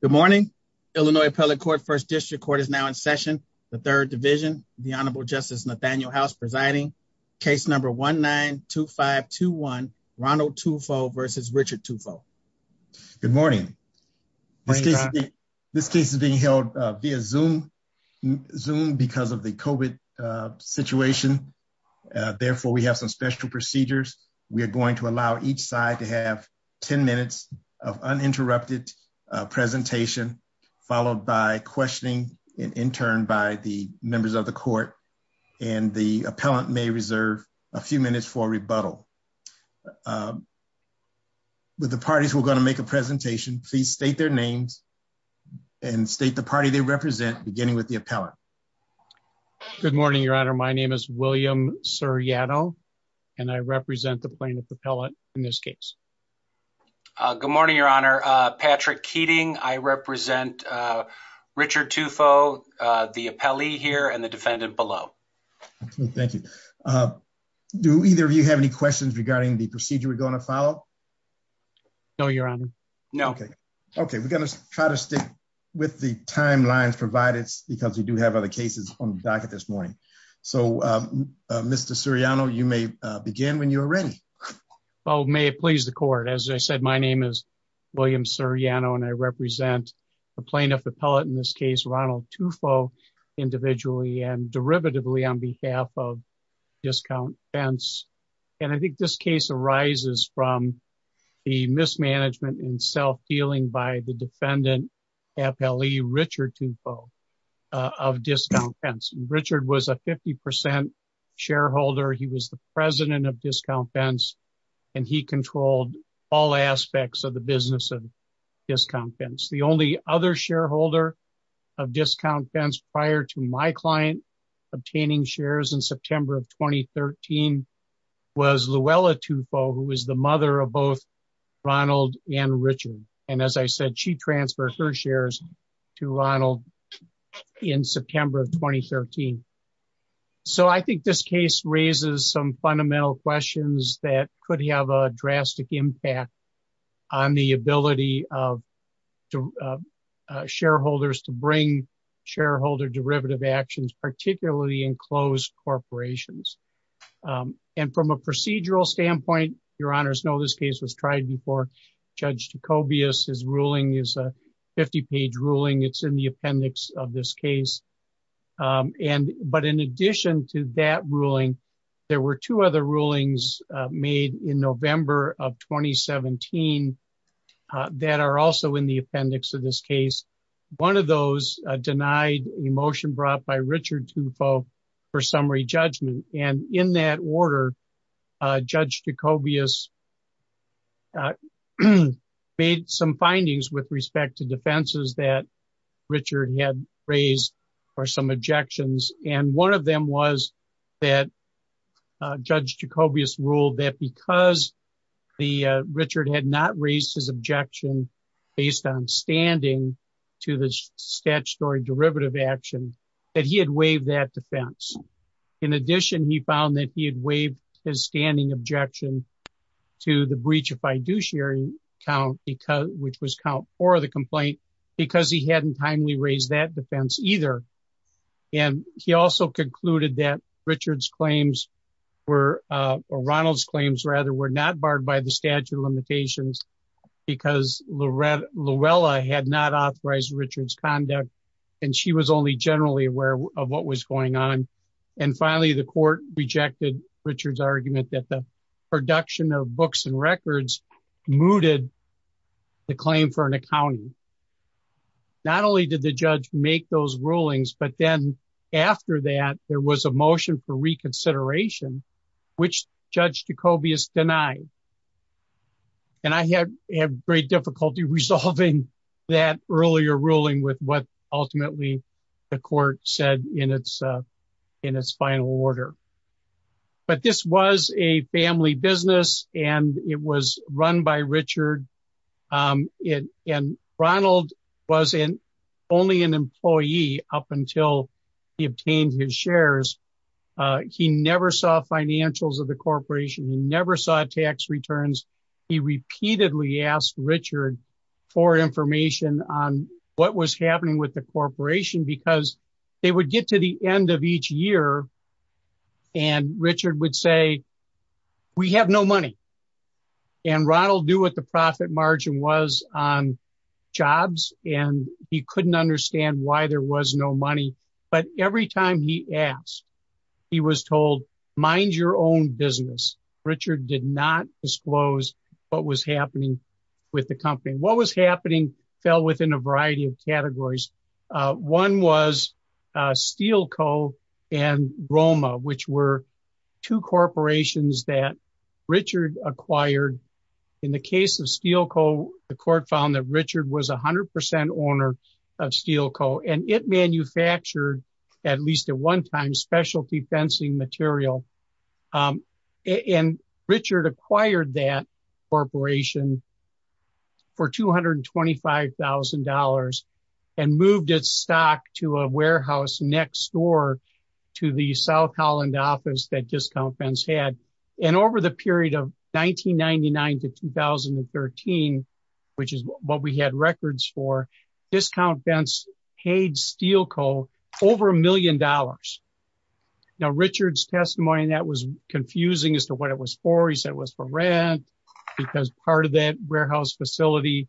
Good morning. Illinois Appellate Court First District Court is now in session. The Third Division, the Honorable Justice Nathaniel House presiding. Case number 1-9-2-5-2-1, Ronald Tufo versus Richard Tufo. Good morning. This case is being held via Zoom because of the COVID situation. Therefore, we have some special procedures. We are going to allow each side to have 10 minutes of uninterrupted presentation, followed by questioning and interned by the members of the court. And the appellant may reserve a few minutes for rebuttal. With the parties who are going to make a presentation, please state their names and state the party they represent, beginning with the appellant. Good morning, Your Honor. My name is William Siriano, and I represent the plaintiff appellant in this case. Good morning, Your Honor. Patrick Keating. I represent Richard Tufo, the appellee here, and the defendant below. Thank you. Do either of you have any questions regarding the procedure we're going to follow? No, Your Honor. No. Okay. Okay. We're going to try to stick with the timelines provided because we do have other cases on the docket this morning. So, Mr. Siriano, you may begin when you're ready. Oh, may it please the court. As I said, my name is William Siriano, and I represent the plaintiff appellant in this case, Ronald Tufo, individually and derivatively on behalf of discount fence. And I think this case arises from the mismanagement and self-dealing by the defendant appellee, Richard Tufo, of discount fence. Richard was a 50% shareholder. He was the president of discount fence, and he controlled all aspects of the business of discount fence. The only other shareholder of discount fence prior to my client obtaining shares in September of 2013 was Luella Tufo, who is the mother of both Ronald and Richard. And as I said, she transferred her shares to Ronald in September of 2013. So, I think this case raises some fundamental questions that could have a drastic impact on the ability of shareholders to bring shareholder derivative actions, particularly in closed corporations. And from a procedural standpoint, Your Honors, no, this case was tried before. Judge Dacobias, his ruling is a 50-page ruling. It's in the appendix of this case. But in addition to that ruling, there were two other rulings made in November of 2017 that are also in the appendix of this case. One of those denied a motion brought by Richard Tufo for summary judgment. And in that order, Judge Dacobias made some findings with respect to defenses that Richard had raised for some objections. And one of them was that Judge Dacobias ruled that because Richard had not raised his objection based on standing to the statutory derivative action, that he had waived that defense. In addition, he found that he had waived his standing objection to the breach of fiduciary count, which was count for the complaint, because he hadn't timely raised that defense either. And he also concluded that Richard's claims were, or Ronald's claims rather, were not barred by the statute of limitations because Luella had not authorized Richard's conduct. And she was only generally aware of what was going on. And finally, the court rejected Richard's argument that the production of books and records mooted the claim for an accounting. Not only did the judge make those rulings, but then after that, there was a motion for reconsideration, which Judge Dacobias denied. And I have great difficulty resolving that earlier ruling with what ultimately the court said in its final order. But this was a family business and it was run by Richard. And Ronald was only an employee up until he obtained his shares. He never saw financials from the corporation. He never saw tax returns. He repeatedly asked Richard for information on what was happening with the corporation, because they would get to the end of each year and Richard would say, we have no money. And Ronald knew what the profit margin was on jobs, and he couldn't understand why there was no money. But every time he asked, he was told, mind your own business. Richard did not disclose what was happening with the company. What was happening fell within a variety of categories. One was Steelco and Roma, which were two corporations that Richard acquired. In the case of Steelco, the court found that Richard was 100% owner of Steelco and it manufactured, at least at one time, specialty fencing material. And Richard acquired that corporation for $225,000 and moved its stock to a warehouse next door to the South Holland office that Discount Fence had. And over the period of 1999 to 2013, which is what we had records for, Discount Fence paid Steelco over a million dollars. Now Richard's testimony, that was confusing as to what it was for. He said it was for rent, because part of that warehouse facility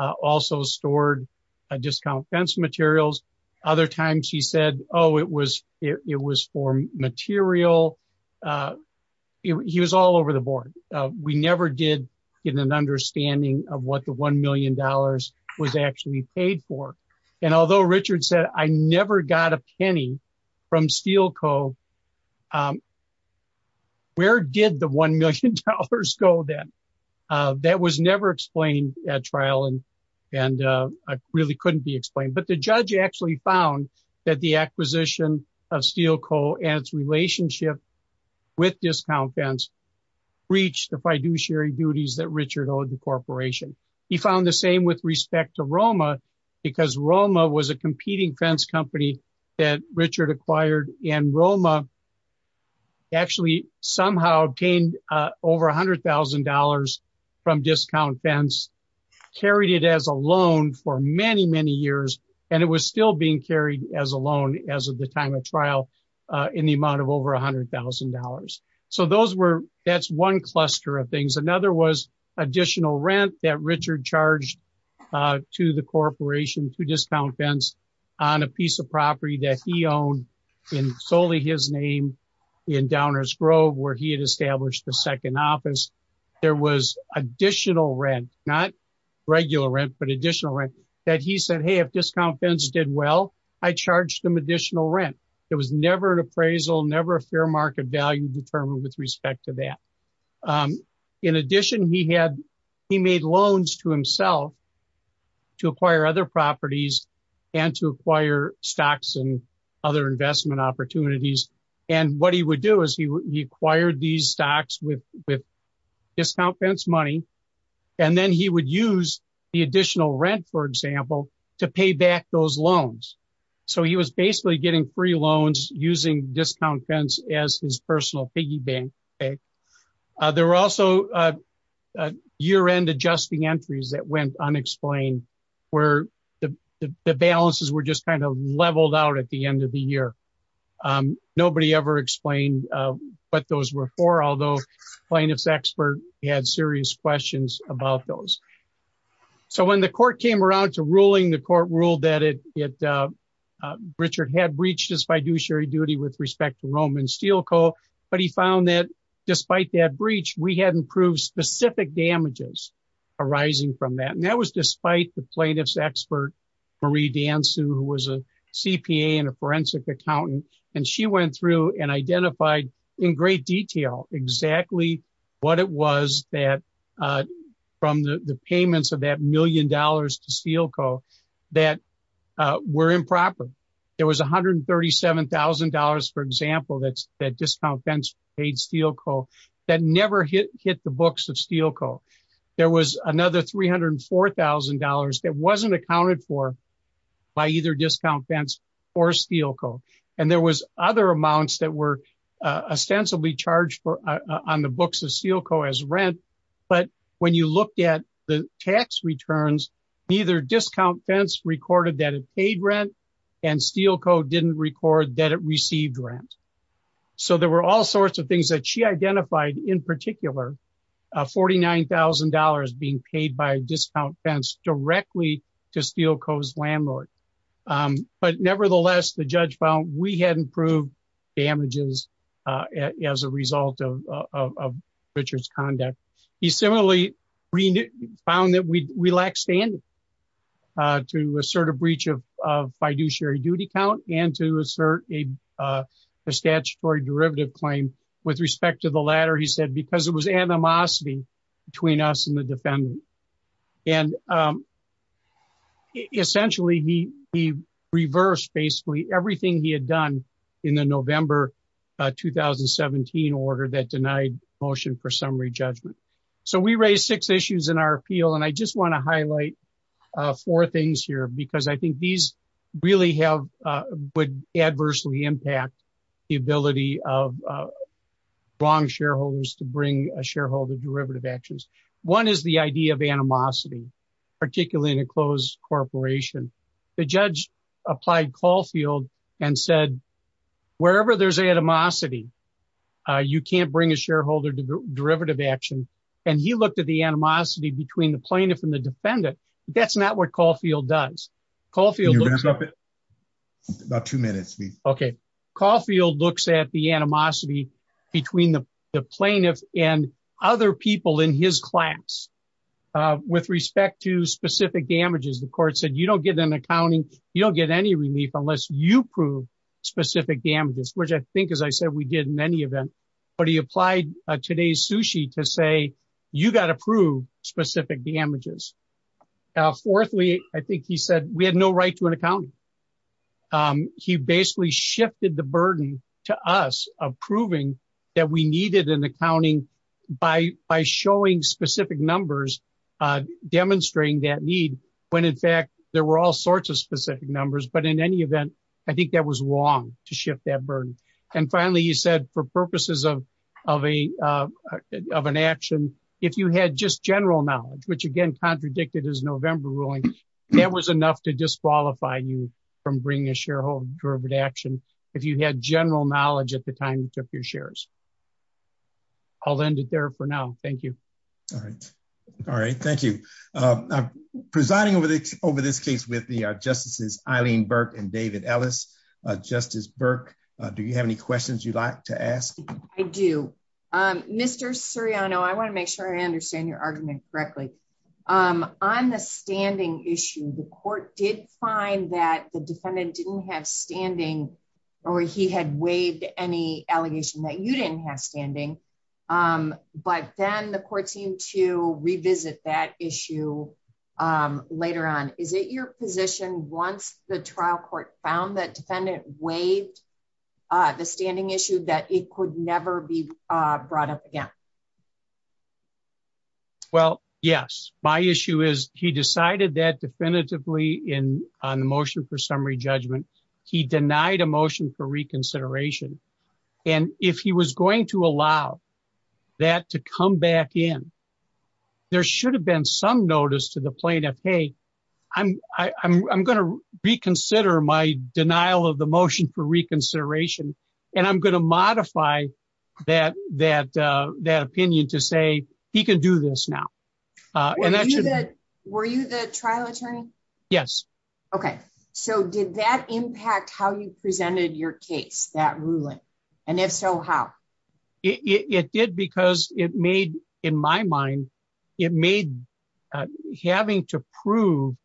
also stored Discount Fence materials. Other times he said, oh, it was for material. He was all over the board. We never did get an understanding of what the $1 million was actually paid for. And although Richard said, I never got a penny from Steelco, where did the $1 million go then? That was never explained at trial and really couldn't be explained. But the judge actually found that the acquisition of Steelco and its relationship with Discount Fence reached the fiduciary duties that Richard corporation. He found the same with respect to Roma, because Roma was a competing fence company that Richard acquired. And Roma actually somehow gained over $100,000 from Discount Fence, carried it as a loan for many, many years. And it was still being carried as a loan as of the time of trial in the amount of over $100,000. So that's one cluster of things. Another was additional rent that Richard charged to the corporation to Discount Fence on a piece of property that he owned in solely his name in Downers Grove, where he had established the second office. There was additional rent, not regular rent, but additional rent that he said, hey, if Discount Fence did well, I charged them additional rent. There was never an appraisal, never a fair market value determined with respect to that. In addition, he made loans to himself to acquire other properties and to acquire stocks and other investment opportunities. And what he would do is he acquired these stocks with Discount Fence money. And then he would use the additional rent, for example, to pay back those loans. So he was basically getting free as his personal piggy bank. There were also year-end adjusting entries that went unexplained, where the balances were just kind of leveled out at the end of the year. Nobody ever explained what those were for, although plaintiff's expert had serious questions about those. So when the court came around to ruling, the court ruled that Richard had breached his fiduciary duty with respect to Roman Steel Co. But he found that despite that breach, we hadn't proved specific damages arising from that. And that was despite the plaintiff's expert, Marie Dansu, who was a CPA and a forensic accountant. And she went through and identified in great detail exactly what it was that from the payments of that million dollars to Steel Co. that were improper. There was $137,000, for example, that Discount Fence paid Steel Co. that never hit the books of Steel Co. There was another $304,000 that wasn't accounted for by either Discount Fence or Steel Co. And there was other amounts that were ostensibly charged on the books of Steel Co. as Steel Co. didn't record that it received rent. So there were all sorts of things that she identified in particular, $49,000 being paid by Discount Fence directly to Steel Co.'s landlord. But nevertheless, the judge found we hadn't proved damages as a result of Richard's conduct. He similarly found that we lacked standing to assert a breach of fiduciary duty count and to assert a statutory derivative claim with respect to the latter, he said, because it was animosity between us and the defendant. And essentially, he reversed basically everything he had done in the November 2017 order that denied motion for summary judgment. So we raised six issues in our appeal. And I just want to highlight four things here, because I think these really would adversely impact the ability of wrong shareholders to bring a shareholder derivative actions. One is the idea of animosity, particularly in a closed corporation. The judge applied Caulfield and said, wherever there's animosity, you can't bring a shareholder derivative action. And he looked at the animosity between the plaintiff and the defendant. That's not what Caulfield does. About two minutes. Okay. Caulfield looks at the animosity between the plaintiff and other people in his class. With respect to specific damages, the court said, you don't get an accounting, you don't get any relief unless you prove specific damages, which I think, as I said, we did in any event. But he applied today's sushi to say, you got to prove specific damages. Fourthly, I think he said, we had no right to an accountant. He basically shifted the burden to us of proving that we needed an accounting by showing specific numbers, demonstrating that need, when in fact, there were all sorts of specific numbers. But in any event, I think that was wrong to shift that burden. And finally, he said, for purposes of an action, if you had just general knowledge, which again, contradicted his November ruling, that was enough to disqualify you from bringing a shareholder action. If you had general knowledge at the time you took your shares. I'll end it there for now. Thank you. All right. All right. Thank you. presiding over the over this case with the justices Eileen Burke and David Ellis, Justice Burke. Do you have any questions you'd like to ask? I do. Mr. Suriano, I want to make sure I understand your argument correctly. On the standing issue, the court did find that the defendant didn't have standing, or he had waived any allegation that you didn't have standing. But then the court seemed to revisit that issue. Later on, is it your position once the trial court found that defendant waived the standing issue that it could never be brought up again? Well, yes, my issue is he decided that definitively in on the motion for summary judgment, he denied a motion for reconsideration. And if he was going to allow that to come back in, there should have been some notice to the plaintiff. Hey, I'm going to reconsider my opinion to say he can do this now. Were you the trial attorney? Yes. Okay. So did that impact how you presented your case that ruling? And if so, how it did because it made in my mind, it made having to prove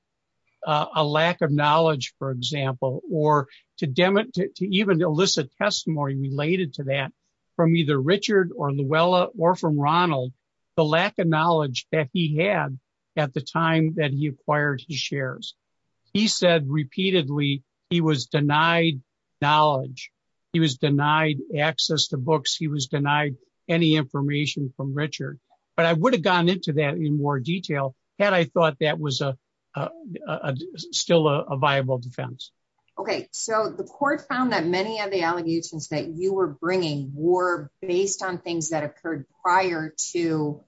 a lack of knowledge, for example, or to demonstrate to even elicit testimony related to that from either Richard or Luella or from Ronald, the lack of knowledge that he had, at the time that he acquired his shares. He said repeatedly, he was denied knowledge, he was denied access to books, he was denied any information from Richard. But I would have gone into that in more detail. And I thought that was a still a viable defense. Okay, so the court found that many of the allegations that you were bringing were based on things that occurred prior to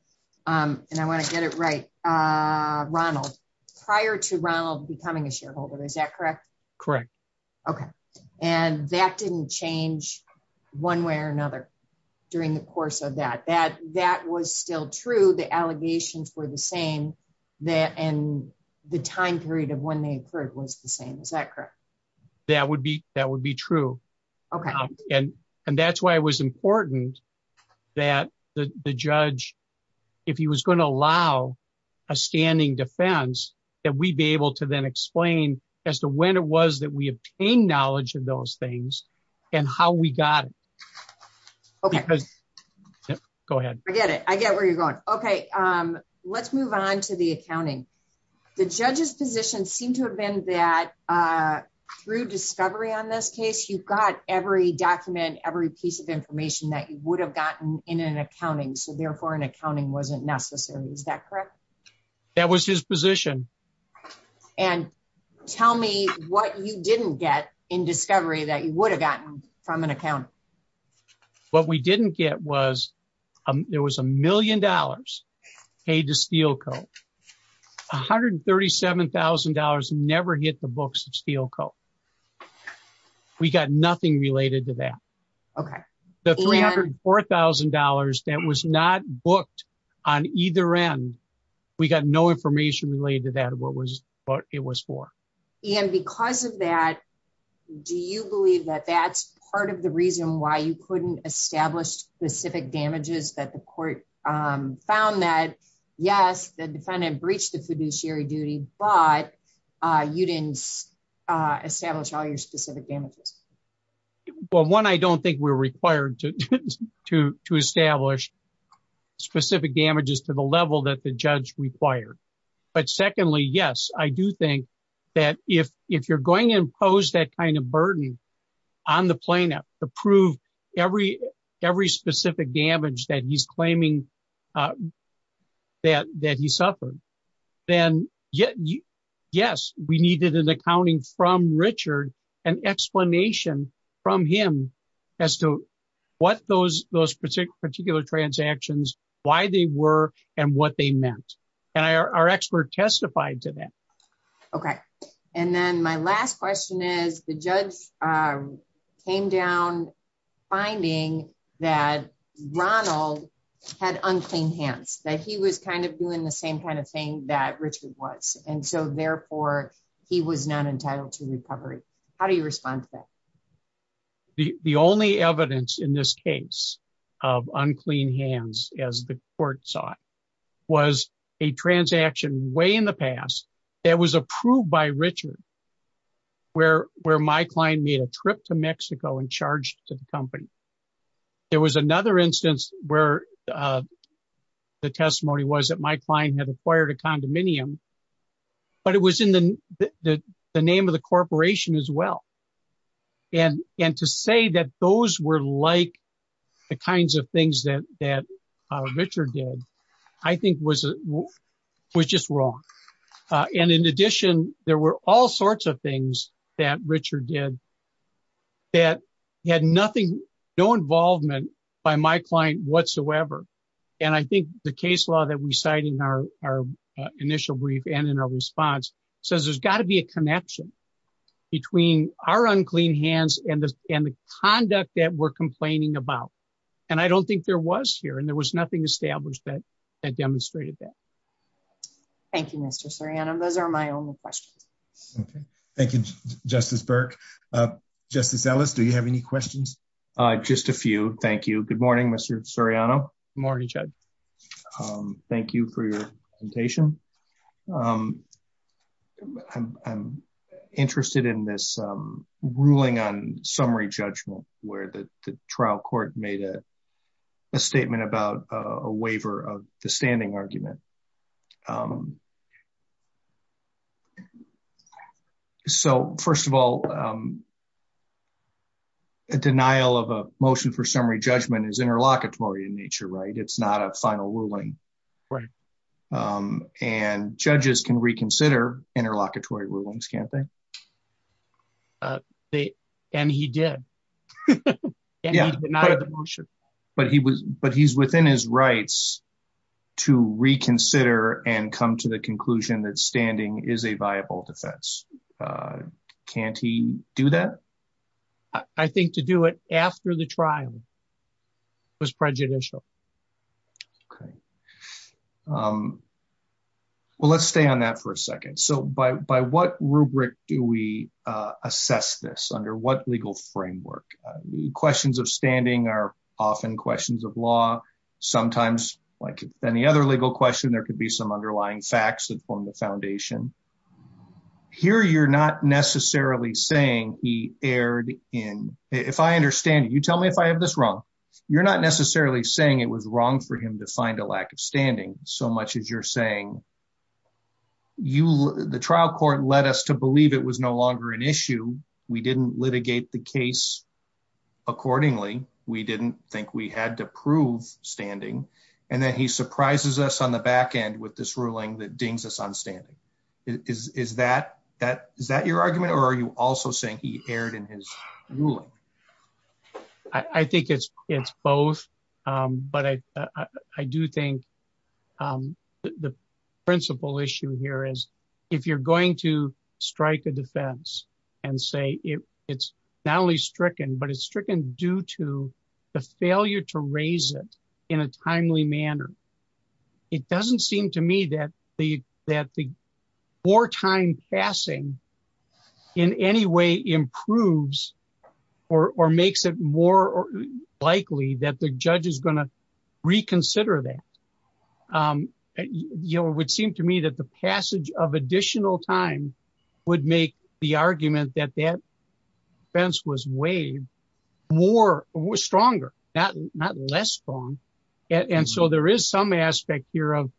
and I want to get it right. Ronald, prior to Ronald becoming a shareholder, is that correct? Correct. Okay. And that didn't change one way or another. During the course of that, that that was still true. The allegations were the same that and the time period of when they occurred was the same that correct? That would be that would be true. Okay. And, and that's why it was important that the judge, if he was going to allow a standing defense, that we'd be able to then explain as to when it was that we obtained knowledge of those things, and how we got it. Okay. Go ahead. I get it. I get where you're going. Okay. Let's move on to the accounting. The judge's position seemed to have been that through discovery on this case, you've got every document, every piece of information that you would have gotten in an accounting. So therefore, an accounting wasn't necessary. Is that correct? That was his position. And tell me what you didn't get in discovery that you would have gotten from an account. What we didn't get was, there was a $137,000 never hit the books of Steel Co. We got nothing related to that. Okay. The $304,000 that was not booked on either end. We got no information related to that what was what it was for. And because of that, do you believe that that's part of the reason why you couldn't establish specific damages that the court found that, yes, the defendant breached the fiduciary duty, but you didn't establish all your specific damages? Well, one, I don't think we're required to establish specific damages to the level that the judge required. But secondly, yes, I do think that if you're going to impose that kind of burden on the plaintiff to prove every specific damage that he's claiming that he suffered, then yes, we needed an accounting from Richard, an explanation from him as to what those particular transactions, why they were, and what they meant. And our expert testified to that. Okay. And then my last question is the judge came down finding that Ronald had unclean hands, that he was kind of doing the same kind of thing that Richard was. And so therefore he was not entitled to recovery. How do you respond to that? The only evidence in this case of unclean hands, as the court saw it, was a transaction way in the past that was approved by Richard, where my client made a trip to Mexico and charged to the company. There was another instance where the testimony was that my client had acquired a condominium, but it was in the name of the corporation as well. And to say that those were like the kinds of things that Richard did, I think was just wrong. And in addition, there were all sorts of things that Richard did that had no involvement by my client whatsoever. And I think the case law that we cited in our initial brief and in our response says there's got to be a connection between our unclean hands and the conduct that we're complaining about. And I don't think there was here and there was nothing established that demonstrated that. Thank you, Mr. Soriano. Those are my only questions. Okay. Thank you, Justice Burke. Justice Ellis, do you have any questions? Just a few. Thank you. Good morning, Mr. Soriano. Morning, Judge. Thank you for your presentation. I'm interested in this ruling on summary judgment where the trial court made a statement about a waiver of the standing argument. So, first of all, a denial of a motion for summary judgment is interlocutory in nature, right? It's not a final ruling. And judges can reconsider interlocutory rulings, can't they? And he did. And he denied the motion. But he's within his rights to reconsider and come to the conclusion that standing is a viable defense. Can't he do that? I think to do it after the trial was prejudicial. Okay. Well, let's stay on that for a second. So, by what rubric do we assess this? Under what legal framework? Questions of standing are often questions of law. Sometimes, like any other legal question, there could be some underlying facts that form the foundation. Here, you're not necessarily saying he erred in... If I understand, you tell me if I have this wrong. You're not saying it was wrong for him to find a lack of standing so much as you're saying the trial court led us to believe it was no longer an issue. We didn't litigate the case accordingly. We didn't think we had to prove standing. And then he surprises us on the back end with this ruling that dings us on standing. Is that your argument? Or are you also saying he erred in his ruling? I think it's both. But I do think the principal issue here is if you're going to strike a defense and say it's not only stricken, but it's stricken due to the failure to raise it in a timely manner, it doesn't seem to me that the wartime passing in any way improves or makes it more likely that the judge is going to reconsider that. It would seem to me that the passage of additional time would make the argument that that defense was weighed stronger, not less strong. And so there is some aspect here of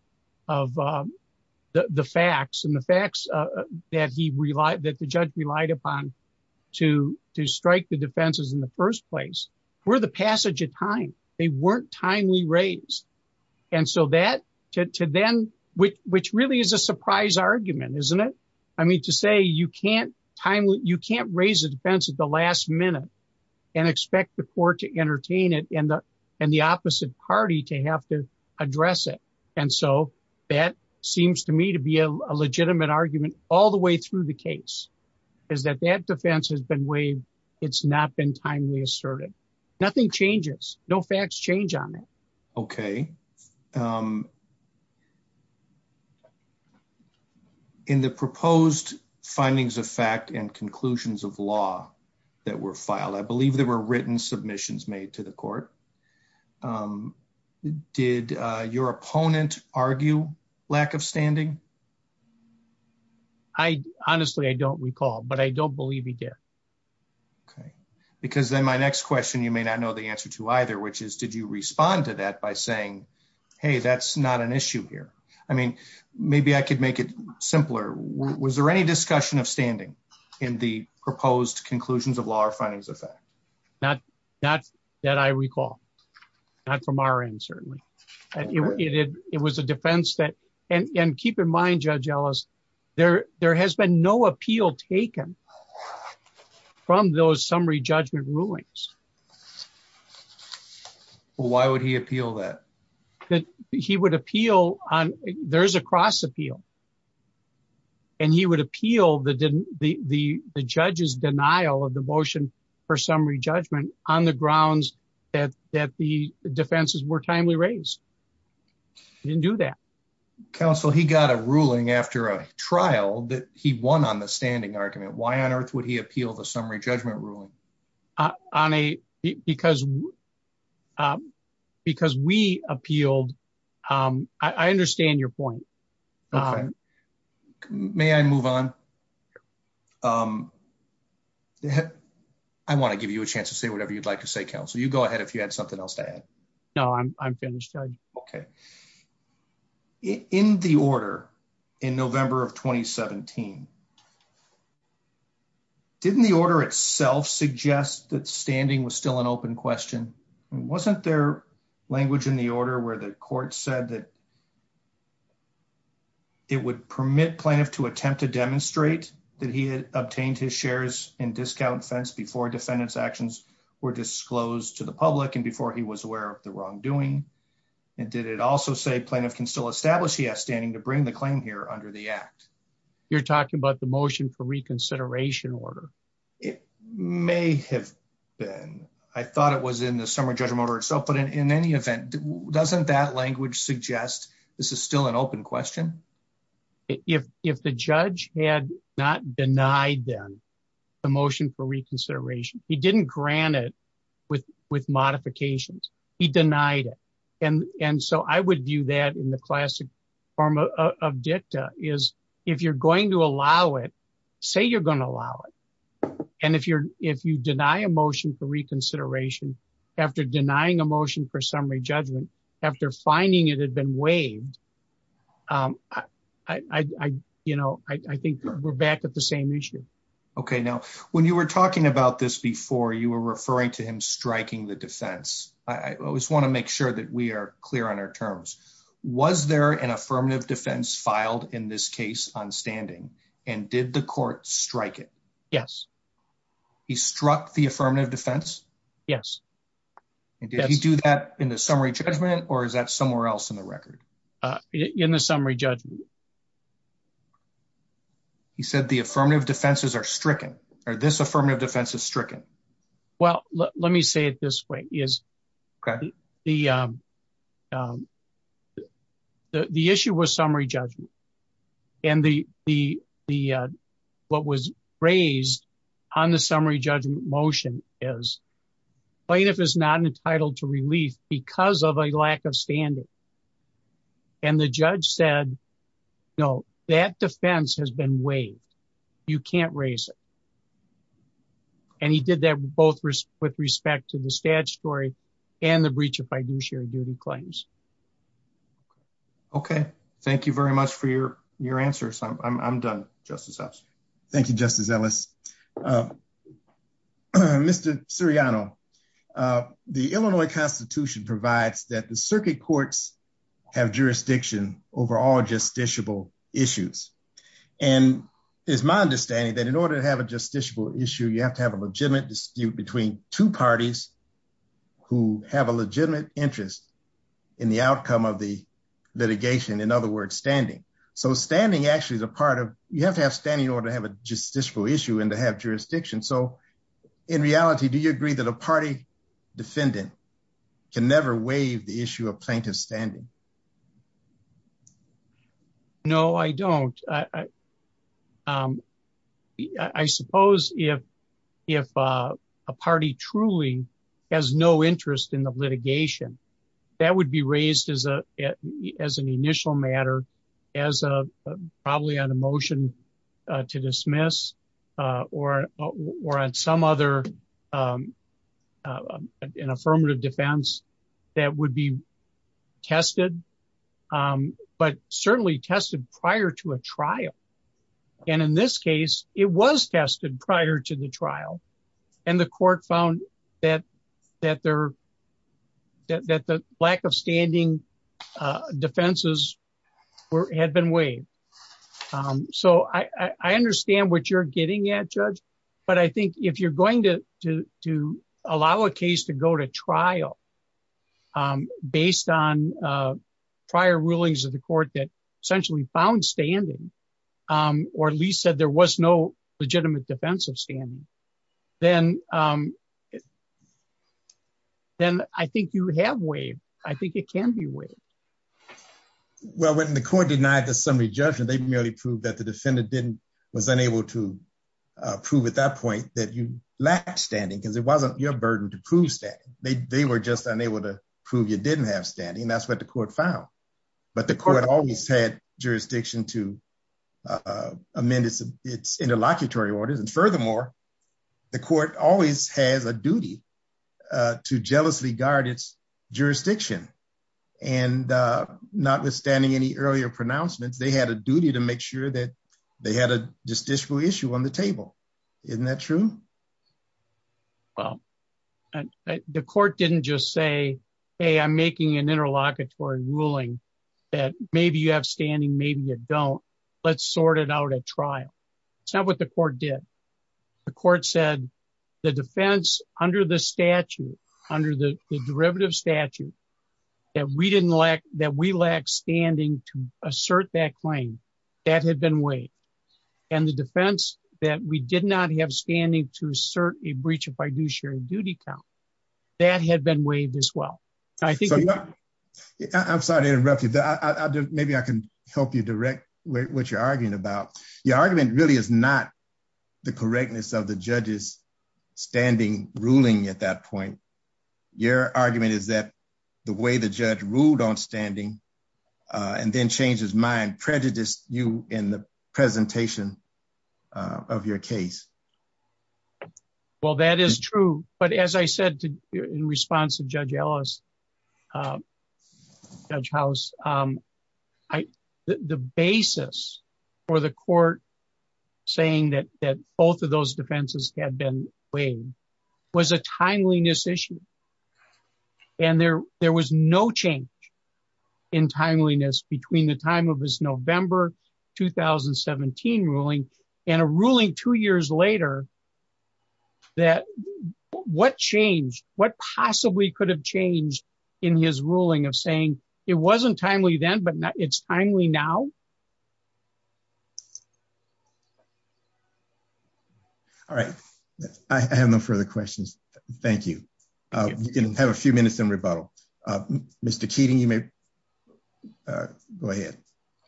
the facts and the facts that the judge relied upon to strike the defenses in the first place were the passage of time. They weren't timely raised. Which really is a surprise argument, isn't it? I mean, to say you can't raise a defense at the last minute and expect the court to entertain it and the opposite party to have to address it. And so that seems to me to be a legitimate argument all the way through the case, is that that defense has been weighed. It's not been timely asserted. Nothing changes. No facts change on it. Okay. Um, in the proposed findings of fact and conclusions of law that were filed, I believe there were written submissions made to the court. Did your opponent argue lack of standing? I honestly, I don't recall, but I don't believe he did. Okay. Because then my next question, you may not know the answer to either, did you respond to that by saying, Hey, that's not an issue here. I mean, maybe I could make it simpler. Was there any discussion of standing in the proposed conclusions of law or findings of fact? Not that I recall, not from our end, certainly it was a defense that, and keep in mind judge Ellis, there, there has been no appeal taken from those summary judgment rulings. Why would he appeal that he would appeal on there's a cross appeal and he would appeal the, the, the, the judge's denial of the motion for summary judgment on the grounds that, that the defenses were timely raised. Didn't do that council. He got a ruling after a trial that he won on the standing argument. Why because, um, because we appealed, um, I understand your point. May I move on? Um, I want to give you a chance to say whatever you'd like to say, counsel, you go ahead. If you had something else to add. No, I'm, I'm finished. Okay. In the order in November of 2017, didn't the order itself suggest that standing was still an open question. Wasn't there language in the order where the court said that it would permit plaintiff to attempt to demonstrate that he had obtained his shares and discount fence before defendants actions were disclosed to the public. And before he was aware of the wrongdoing. And did it also say plaintiff can still establish he has standing to bring the claim here under the act. You're talking about the motion for reconsideration order. It may have been, I thought it was in the summer judgment or itself, but in any event, doesn't that language suggest this is still an open question. If, if the judge had not denied them the motion for modifications, he denied it. And, and so I would view that in the classic form of dicta is if you're going to allow it, say, you're going to allow it. And if you're, if you deny a motion for reconsideration after denying a motion for summary judgment, after finding it had been waived, um, I, I, I, you know, I think we're back at the same issue. Okay. Now, when you were talking about this before you were referring to him striking the defense, I always want to make sure that we are clear on our terms. Was there an affirmative defense filed in this case on standing and did the court strike it? Yes. He struck the affirmative defense. Yes. And did he do that in the summary judgment or is that somewhere else in the record? Uh, in the summary judgment, he said the affirmative defenses are stricken or this affirmative defense is stricken. Well, let me say it this way is the, um, um, the, the issue was summary judgment and the, the, the, uh, what was raised on the summary judgment motion is plaintiff is not entitled to relief because of a lack of standard. And the judge said, no, that defense has been waived. You can't raise it. And he did that both with respect to the stag story and the breach of fiduciary duty claims. Okay. Thank you very much for your, your answers. I'm I'm I'm done justice. Thank you, justice Ellis. Um, Mr. Suriano, uh, the Illinois constitution provides that the circuit courts have jurisdiction over all justiciable issues. And it's my understanding that in order to have a justiciable issue, you have to have a legitimate dispute between two parties who have a legitimate interest in the outcome of the litigation. In other words, standing. So standing actually is a part of, you have to have standing in order to have a justiciable issue and to have jurisdiction. So in reality, do you agree that a party defendant can never waive the issue of plaintiff standing? No, I don't. I, um, I suppose if, if, uh, a party truly has no interest in the litigation that would be raised as a, as an initial matter, as a, probably on a motion to dismiss, uh, or, or on some other, um, uh, an affirmative defense that would be tested. Um, but certainly tested prior to a trial. And in this case, it was tested prior to the trial. And the court found that, that there, that, that the lack of standing, uh, defenses were, had been waived. Um, so I, I understand what you're getting at judge, but I think if you're going to, to, to allow a case to go to trial, um, based on, uh, prior rulings of the court that essentially found standing, um, or at least said there was no legitimate defensive standing, then, um, then I think you have waived. I think it can be waived. Well, when the court denied the summary judgment, they merely proved that the defendant didn't, was unable to, uh, prove at that point that you lacked standing because it wasn't your burden to prove standing. They, they were just unable to prove you didn't have standing. That's the court found, but the court always had jurisdiction to, uh, amend its, its interlocutory orders. And furthermore, the court always has a duty, uh, to jealously guard its jurisdiction. And, uh, not withstanding any earlier pronouncements, they had a duty to make sure that they had a justiciable issue on the table. Isn't that true? Well, the court didn't just say, Hey, I'm making an interlocutory ruling that maybe you have standing, maybe you don't let's sort it out at trial. It's not what the court did. The court said the defense under the statute, under the derivative statute that we didn't lack, that we lack standing to assert that claim that had been waived and the defense that we did not have standing to assert a breach of fiduciary duty count that had been waived as well. I'm sorry to interrupt you, but maybe I can help you direct what you're arguing about. Your argument really is not the correctness of the judge's standing ruling at that point. Your argument is that the way the judge ruled on standing, uh, and then change his mind prejudiced you in the presentation, uh, of your case. Well, that is true. But as I said to, in response to judge Ellis, uh, judge house, um, I, the basis for the court saying that, that both of those defenses had been waived was a timeliness issue. And there, there was no change in timeliness between the time of his November, 2017 ruling and a ruling two years later that what changed, what possibly could have changed in his ruling of saying it wasn't timely then, but now it's timely now. All right. I have no further questions. Thank you. Uh, you can have a few minutes in rebuttal. Uh, Mr. Keating, you may, uh, go ahead.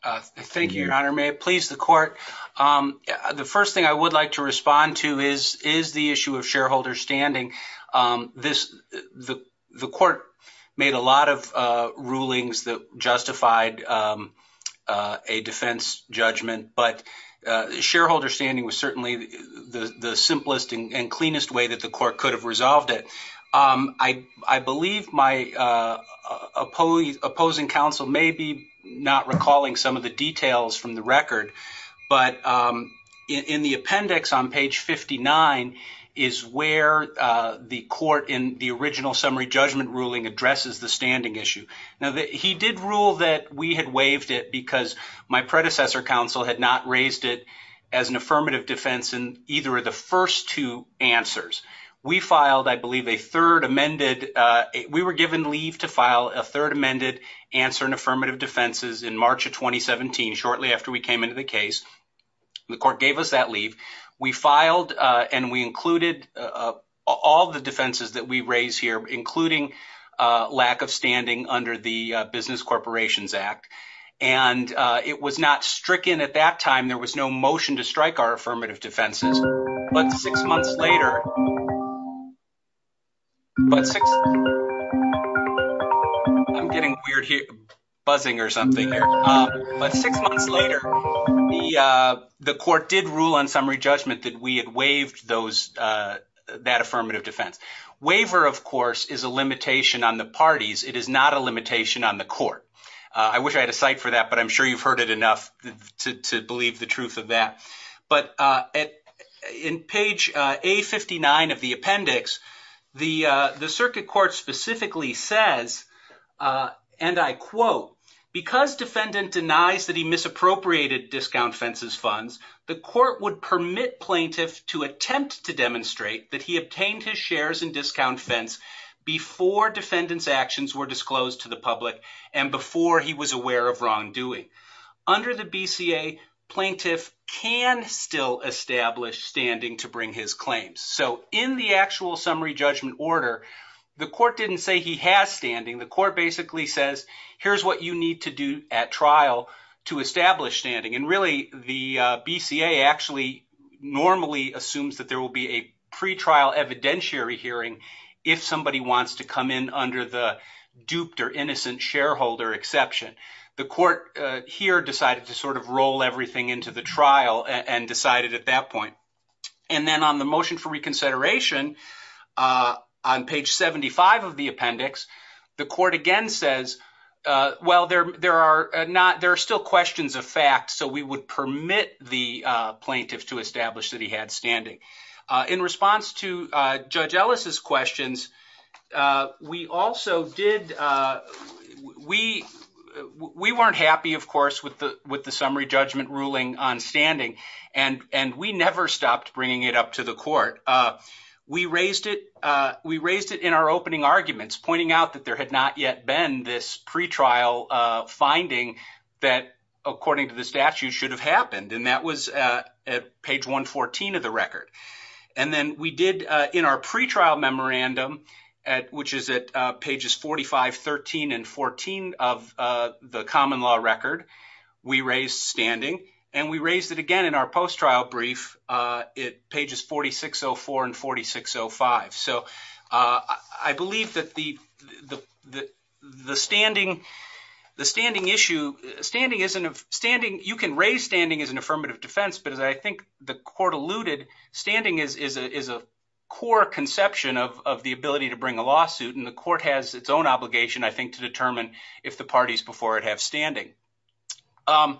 Uh, thank you, your honor. May it please the court. Um, the first thing I would like to respond to is, is the issue of shareholder standing. Um, this, the, the court made a lot of, uh, rulings that justified, um, uh, a defense judgment, but, uh, shareholder standing was certainly the, the, the simplest and cleanest way that the court could have resolved it. Um, I, I believe my, uh, uh, opposing counsel may be not recalling some of the details from the record, but, um, in the appendix on page 59 is where, uh, the court in the original summary judgment ruling addresses the standing issue. Now that he did rule that we had waived it because my predecessor counsel had not raised it as an affirmative defense in either of the first two answers. We filed, I believe a third amended, uh, we were given leave to file a third amended answer in affirmative defenses in March of 2017, shortly after we came into the case. The court gave us that leave. We filed, uh, and we included, uh, all the defenses that we raised here, including, uh, lack of standing under the business corporations act. And, uh, it was not stricken at that time. There was no motion to strike our affirmative defenses. But six months later, but six, I'm getting weird here, buzzing or something, but six months later, the, uh, the court did rule on summary judgment that we had waived those, uh, that affirmative defense. Waiver of course is a limitation on the parties. It is not a limitation on the court. Uh, I wish I had a site for that, but I'm sure you've heard it enough to, to believe the truth of that. But, uh, in page, uh, a 59 of the appendix, the, uh, the circuit court specifically says, uh, and I quote, because defendant denies that he misappropriated discount fences funds, the court would permit plaintiff to attempt to demonstrate that he obtained his shares and discount fence before defendants actions were disclosed to the public. And before he was aware of wrongdoing under the BCA plaintiff can still establish standing to bring his claims. So in the actual summary judgment order, the court didn't say he has standing. The court basically says, here's what you need to do at trial to establish standing. And really the, uh, BCA actually normally assumes that there will be a pre-trial evidentiary hearing if somebody wants to come in under the duped or innocent shareholder exception, the court, uh, here decided to sort of roll everything into the trial and decided at that point. And then on the motion for reconsideration, uh, on page 75 of the appendix, the court again says, uh, well, there, there are not, there are still questions of facts. So we would permit the, uh, plaintiff to establish that he had standing, uh, in response to, uh, judge Ellis's questions. Uh, we also did, uh, we, we weren't happy of course, with the, with the summary judgment ruling on standing and, and we never stopped bringing it up to the court. Uh, we raised it, uh, we raised it in our opening arguments pointing out that there had not yet been this pre-trial, uh, finding that according to the statute should have happened. And that was, uh, at page 114 of the record. And then we did, uh, in our pre-trial memorandum at, which is at, uh, pages 45, 13 and 14 of, uh, the common law record, we raised standing and we raised it again in our post-trial brief, uh, at pages 4604 and 4605. So, uh, I believe that the, the, the, the standing, the standing issue, standing isn't a standing, you can raise standing as an affirmative defense, but as I think the court alluded, standing is, is a, is a core conception of, of the ability to bring a lawsuit. And the court has its own obligation, I think, to determine if the parties before it have standing. Um,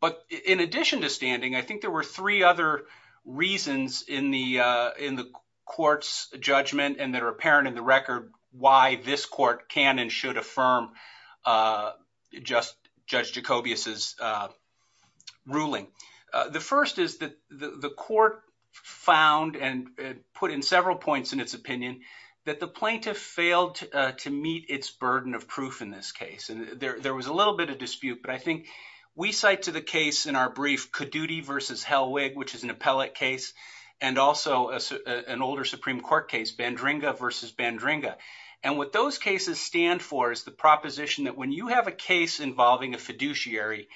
but in addition to standing, I think there were three other reasons in the, uh, in the court's judgment and that are apparent in the record why this court can and should affirm, uh, just Judge Jacobius's, uh, ruling. Uh, the first is that the, the court found and put in several points in its opinion that the plaintiff failed, uh, to meet its burden of proof in this case. And there, there was a little bit of dispute, but I think we cite to the case in our brief, Caduti versus Hellwig, which is an appellate case and also an older Supreme Court case, Bandringa versus Bandringa. And what those cases stand for is the proposition that when you have a case involving a fiduciary,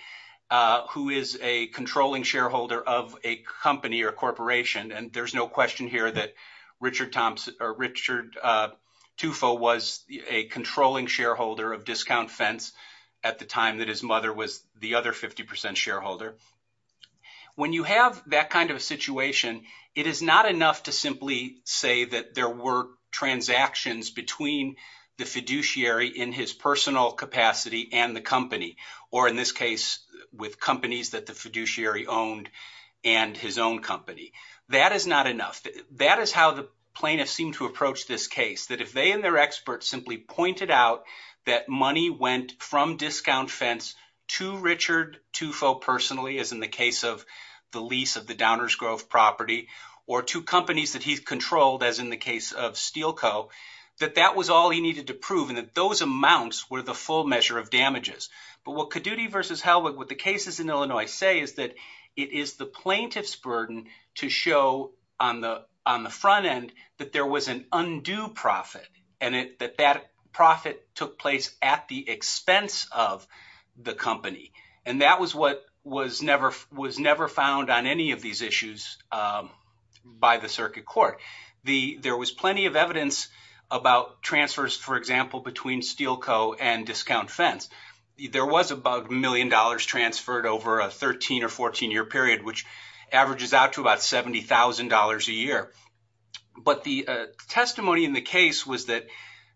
uh, who is a controlling shareholder of a company or corporation, and there's no question here that Richard Thompson or Richard, uh, Tufo was a controlling shareholder of Discount Fence at the time that his mother was the other 50% shareholder. When you have that kind of a situation, it is not enough to simply say that there were transactions between the fiduciary in his personal capacity and the company, or in this case with companies that the fiduciary owned and his own company. That is not enough. That is how the plaintiff seemed to approach this case, that if they and their experts simply pointed out that money went from Discount Fence to Richard Tufo personally, as in the case of the lease of the Downers Grove property, or to companies that he's controlled, as in the case of Steelco, that that was all he needed to prove and that those amounts were the full measure of damages. But what Caduti versus Hellwig, what the cases in Illinois say is that it is the plaintiff's on the front end that there was an undue profit, and that that profit took place at the expense of the company. And that was what was never found on any of these issues by the circuit court. There was plenty of evidence about transfers, for example, between Steelco and Discount Fence. There was about a million dollars transferred over a 13 or 14-year period, which averages out to $70,000 a year. But the testimony in the case was that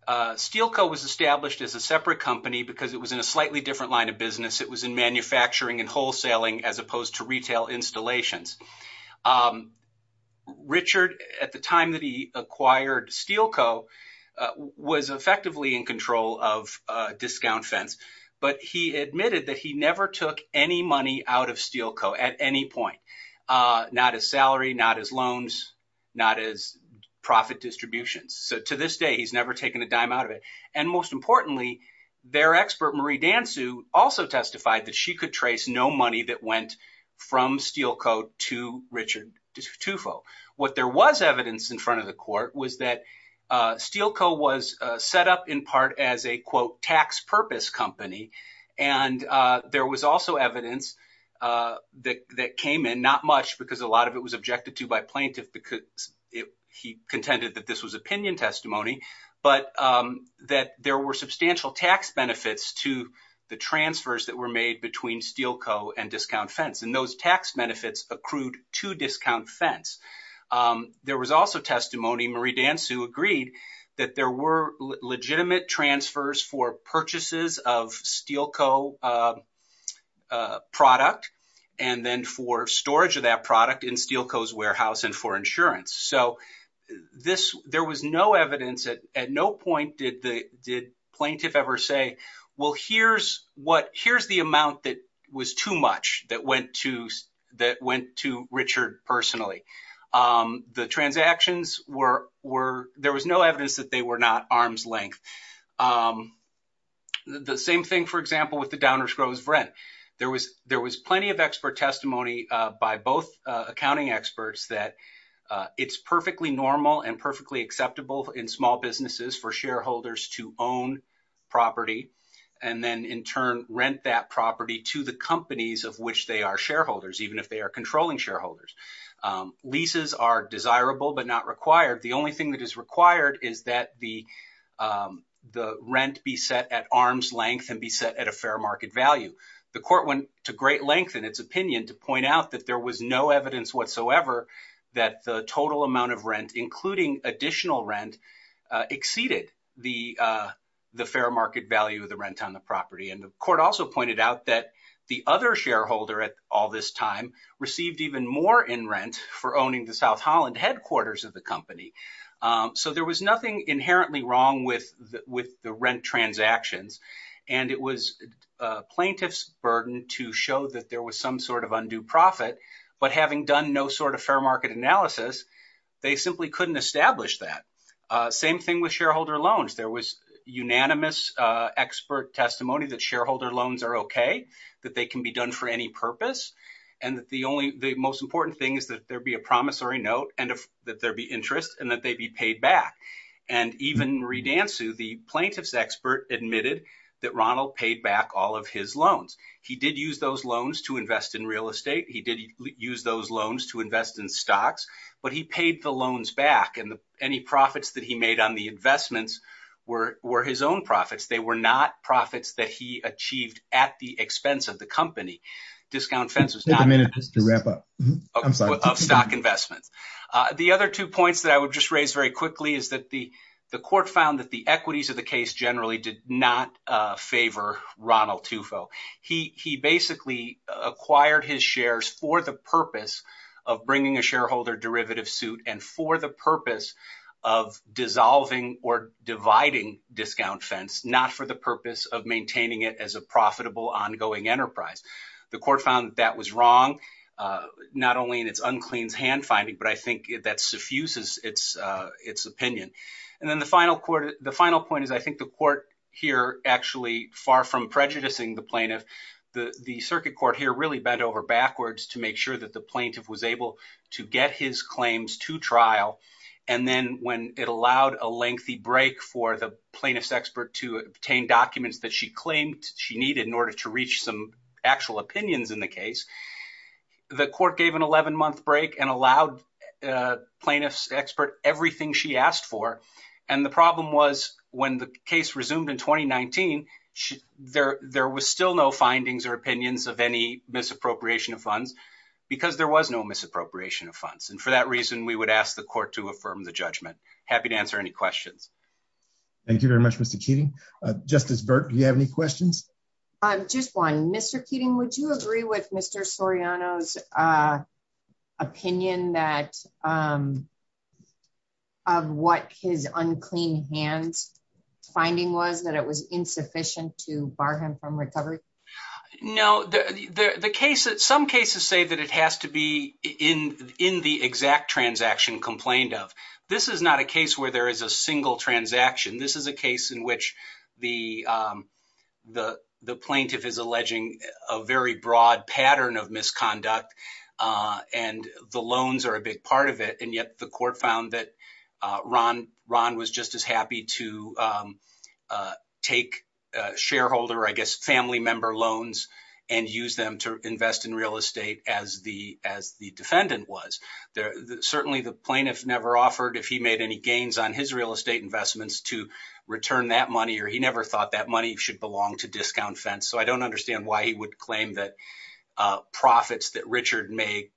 Steelco was established as a separate company because it was in a slightly different line of business. It was in manufacturing and wholesaling as opposed to retail installations. Richard, at the time that he acquired Steelco, was effectively in control of Discount Fence, but he admitted that he never took any money out of Steelco at any point, not his salary, not his loans, not his profit distributions. So to this day, he's never taken a dime out of it. And most importantly, their expert, Marie Dansu, also testified that she could trace no money that went from Steelco to Richard Tufo. What there was evidence in front of the court was that Steelco was set up in part as a, quote, that came in, not much because a lot of it was objected to by plaintiff because he contended that this was opinion testimony, but that there were substantial tax benefits to the transfers that were made between Steelco and Discount Fence. And those tax benefits accrued to Discount Fence. There was also testimony, Marie Dansu agreed, that there were legitimate transfers for purchases of Steelco product and then for storage of that product in Steelco's warehouse and for insurance. So there was no evidence at no point did the plaintiff ever say, well, here's the amount that was too much that went to Richard personally. The transactions were, there was no evidence that they were not arm's length. The same thing, for example, with the Downers Groves rent. There was plenty of expert testimony by both accounting experts that it's perfectly normal and perfectly acceptable in small businesses for shareholders to own property and then in turn rent that property to the companies of which they are shareholders, even if they are controlling shareholders. Leases are desirable, but not required. The only thing that is required is that the rent be set at arm's length and be set at a fair market value. The court went to great length in its opinion to point out that there was no evidence whatsoever that the total amount of rent, including additional rent, exceeded the fair market value of the rent on the property. And the court also pointed out that the other shareholder at all this time received even more in rent for owning the South Holland headquarters of the company. So there was nothing inherently wrong with the rent transactions. And it was plaintiff's burden to show that there was some sort of undue profit, but having done no sort of fair market analysis, they simply couldn't establish that. Same thing with shareholder loans are OK, that they can be done for any purpose. And the most important thing is that there be a promissory note and that there be interest and that they be paid back. And even Marie Dansu, the plaintiff's expert, admitted that Ronald paid back all of his loans. He did use those loans to invest in real estate. He did use those loans to invest in stocks, but he paid the loans back. And any profits that he made on the investments were his own profits. They were not profits that he achieved at the expense of the company. Discount fence was not a manager to wrap up of stock investments. The other two points that I would just raise very quickly is that the court found that the equities of the case generally did not favor Ronald Tufo. He basically acquired his shares for the purpose of bringing a shareholder derivative suit and for the purpose of maintaining it as a profitable ongoing enterprise. The court found that was wrong, not only in its uncleans hand finding, but I think that suffuses its opinion. And then the final point is I think the court here actually far from prejudicing the plaintiff, the circuit court here really bent over backwards to make sure that the plaintiff was able to get his claims to trial. And then when it allowed a lengthy break for the plaintiff's to obtain documents that she claimed she needed in order to reach some actual opinions in the case, the court gave an 11 month break and allowed plaintiff's expert everything she asked for. And the problem was when the case resumed in 2019, there was still no findings or opinions of any misappropriation of funds because there was no misappropriation of funds. And for that reason, we would ask the court to affirm the judgment. Happy to answer any questions. Thank you very much, Mr. Keating. Justice Burke, do you have any questions? Just one. Mr. Keating, would you agree with Mr. Soriano's opinion that of what his unclean hands finding was that it was insufficient to bar him from recovery? No, the case that some cases say that it has to be in the exact transaction complained of. This is not a case where there is a single transaction. This is a case in which the plaintiff is alleging a very broad pattern of misconduct and the loans are a big part of it. And yet the court found that Ron was just as happy to take shareholder, I guess, family member loans and use them to invest in real estate as the defendant was. Certainly the plaintiff never offered if he made any gains on his real estate investments to return that money, or he never thought that money should belong to discount fence. So I don't understand why he would claim that profits that Richard made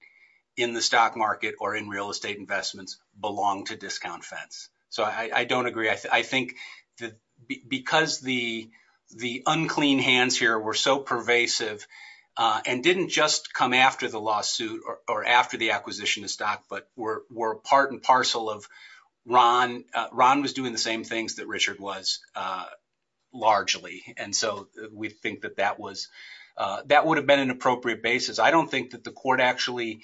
in the stock market or in real estate investments belong to discount fence. So I don't agree. I think that because the unclean hands here were so pervasive and didn't just come after the lawsuit or after the acquisition of stock, but were part and parcel of Ron. Ron was doing the same things that Richard was largely. And so we think that that would have been an appropriate basis. I don't think that actually,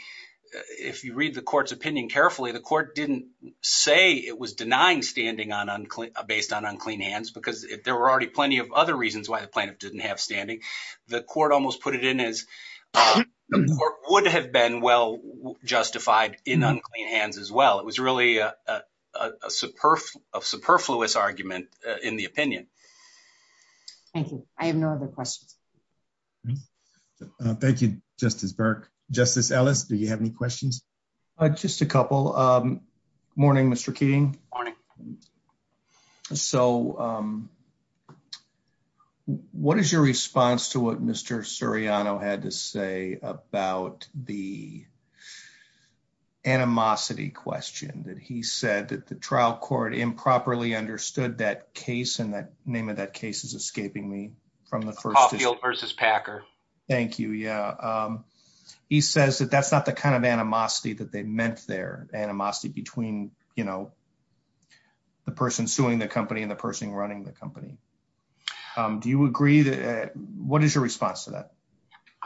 if you read the court's opinion carefully, the court didn't say it was denying standing based on unclean hands, because there were already plenty of other reasons why the plaintiff didn't have standing. The court almost put it in as would have been well justified in unclean hands as well. It was really a superfluous argument in the opinion. Thank you. I have no other questions. Okay. Thank you, Justice Burke. Justice Ellis, do you have any questions? Just a couple. Morning, Mr Keating. Morning. So what is your response to what Mr Suriano had to say about the animosity question that he said that the trial court improperly understood that case and that name of that case is escaping me from the first field versus Packer. Thank you. Yeah. He says that that's not the kind of animosity that they meant their animosity between, you know, the person suing the company and the person running the company. Do you agree that? What is your response to that?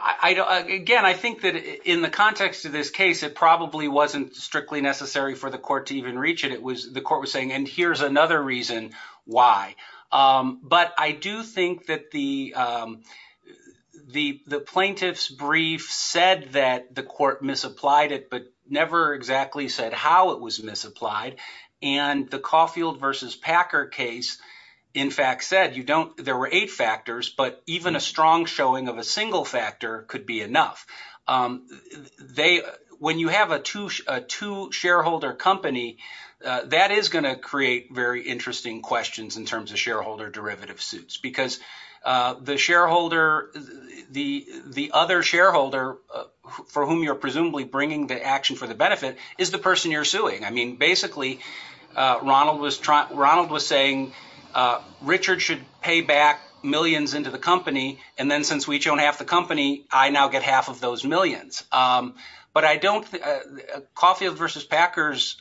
I don't again, I think that in the context of this case, it probably wasn't strictly necessary for the court to even reach it. It was the court was saying and here's another reason why. But I do think that the plaintiff's brief said that the court misapplied it, but never exactly said how it was misapplied. And the Caulfield versus Packer case, in fact, said there were eight factors, but even a strong showing of a single factor could be enough. When you have a two shareholder company, that is going to create very interesting questions in terms of shareholder derivative suits, because the shareholder, the other shareholder for whom you're presumably bringing the action for the benefit is the person you're suing. I mean, basically, Ronald was saying Richard should pay back millions into the company. And then since we each own half the company, I now get half of those millions. But I don't Caulfield versus Packer's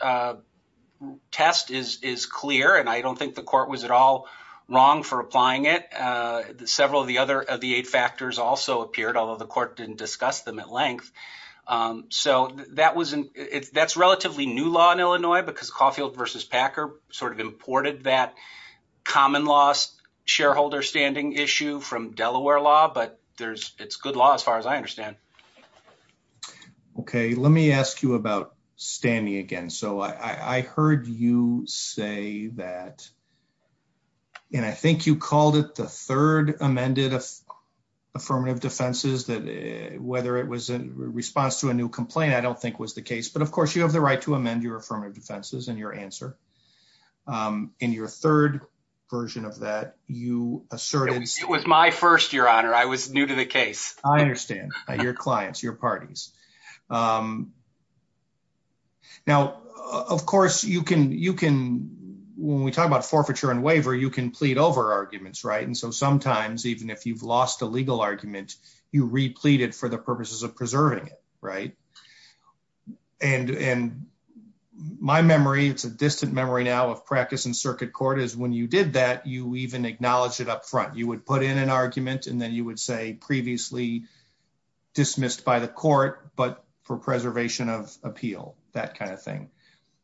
test is clear. And I don't think the court was at all wrong for applying it. Several of the other of the eight factors also appeared, although the court didn't discuss them at length. So that's relatively new law in Illinois, because Caulfield versus Packer sort of imported that common loss shareholder standing issue from Delaware law. But it's good law as far as I understand. Okay, let me ask you about standing again. So I heard you say that. And I think you called it the third amended affirmative defenses that whether it was a response to a new complaint, I don't think was the case. But of course, you have the right to amend your affirmative defenses and your answer. In your third version of that, you assert it was my first year honor, I was new to the case, I understand your clients, your clients. Now, of course, you can you can, when we talk about forfeiture and waiver, you can plead over arguments, right. And so sometimes even if you've lost a legal argument, you replete it for the purposes of preserving it, right. And, and my memory, it's a distant memory now of practice in circuit court is when you did that you even acknowledge it up front, you would put in an appeal, that kind of thing.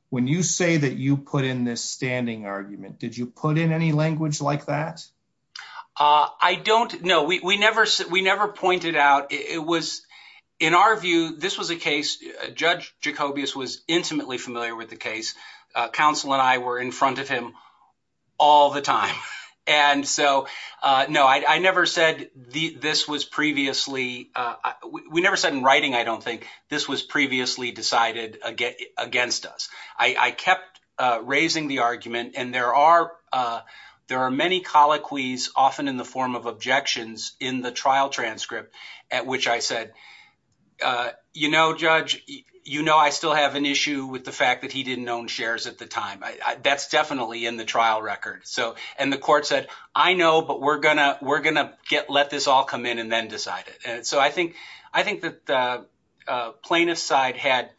When you say that you put in this standing argument, did you put in any language like that? I don't know, we never said we never pointed out it was, in our view, this was a case, Judge Jacobius was intimately familiar with the case, counsel, and I were in front of him all the time. And so no, I never said the this was previously, we never said in writing, I don't think this was previously decided against us, I kept raising the argument. And there are, there are many colloquies, often in the form of objections in the trial transcript, at which I said, you know, Judge, you know, I still have an issue with the fact that he didn't own shares at the time. That's definitely in the trial record. So and the court said, I know, but we're gonna, we're gonna get let this all come in and then decide it. And so I think, I think that the plaintiff's side had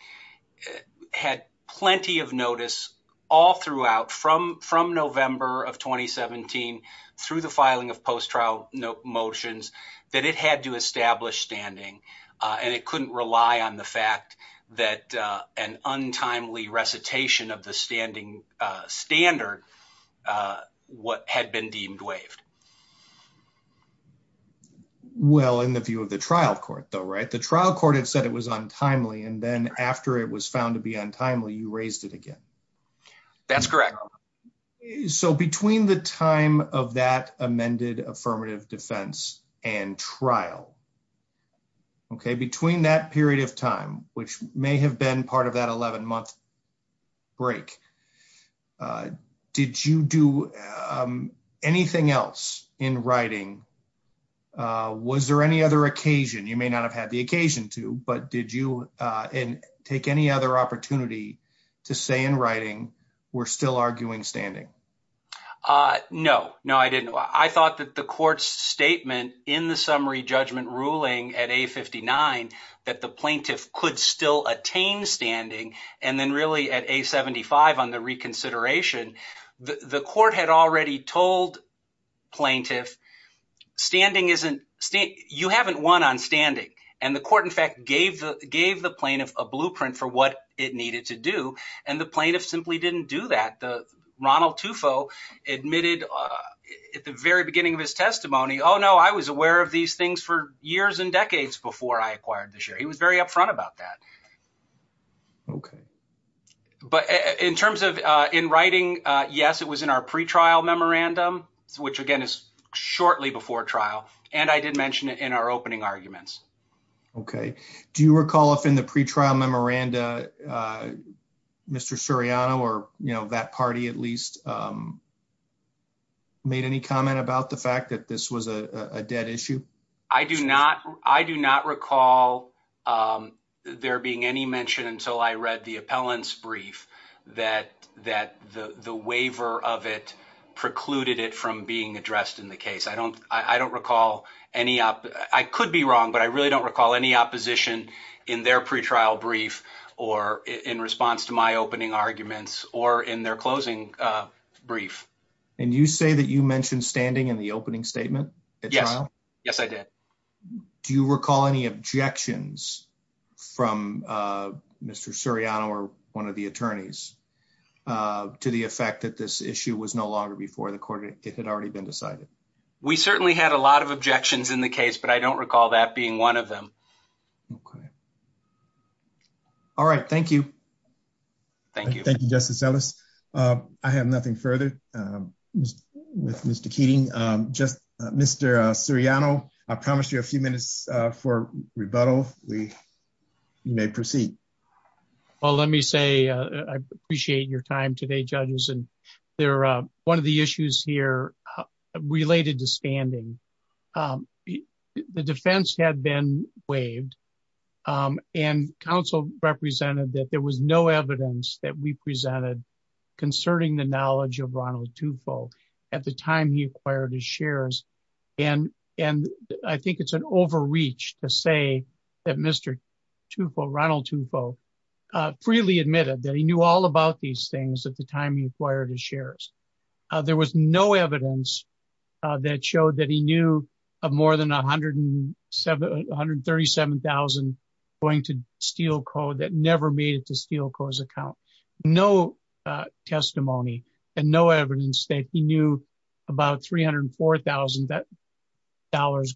had plenty of notice all throughout from from November of 2017, through the filing of post trial motions, that it had to establish standing. And it couldn't rely on the fact that an untimely recitation of the standing standard, what had been deemed waived. Well, in the view of the trial court, though, right, the trial court had said it was untimely. And then after it was found to be untimely, you raised it again. That's correct. So between the time of that amended affirmative defense and trial, okay, between that period of time, which may have been part of that 11 month break, did you do anything else in writing? Was there any other occasion, you may not have had the standing? No, no, I didn't. I thought that the court's statement in the summary judgment ruling at a 59, that the plaintiff could still attain standing. And then really at a 75 on the reconsideration, the court had already told plaintiff standing isn't state you haven't won on standing. And the court in fact, gave the gave the plaintiff a blueprint for what it needed to do. And the Ronald Tufo admitted at the very beginning of his testimony, Oh, no, I was aware of these things for years and decades before I acquired this year. He was very upfront about that. Okay. But in terms of in writing, yes, it was in our pretrial memorandum, which again, is shortly before trial. And I did mention it in our opening arguments. Okay. Do you recall if in the pretrial memoranda, uh, Mr. Suriano, or, you know, that party at least, um, made any comment about the fact that this was a dead issue? I do not. I do not recall, um, there being any mention until I read the appellants brief, that, that the, the waiver of it precluded it from being addressed in the case. I don't, I don't recall any up, I could be wrong, but I really don't recall any opposition in their pretrial brief or in response to my opening arguments or in their closing, uh, brief. And you say that you mentioned standing in the opening statement at trial? Yes, I did. Do you recall any objections from, uh, Mr. Suriano or one of the attorneys, uh, to the effect that this issue was no longer before the court, it had already been decided? We certainly had a lot of objections in the case, but I don't recall that being one of them. Okay. All right. Thank you. Thank you. Thank you, Justice Ellis. Uh, I have nothing further, um, with Mr. Keating. Um, just, uh, Mr. Suriano, I promised you a few minutes, uh, for rebuttal. We may proceed. Well, let me say, uh, I appreciate your time today, judges. And they're, uh, one of the issues here, uh, related to standing. Um, the defense had been waived, um, and counsel represented that there was no evidence that we presented concerning the knowledge of Ronald Tufo at the time he acquired his shares. And, and I think it's an overreach to say that Mr. Tufo, Ronald Tufo, uh, freely admitted that he knew all about these things at the time he acquired his shares. There was no evidence, uh, that showed that he knew of more than 107, 137,000 going to Steelco that never made it to Steelco's account. No, uh, testimony and no evidence that he knew about $304,000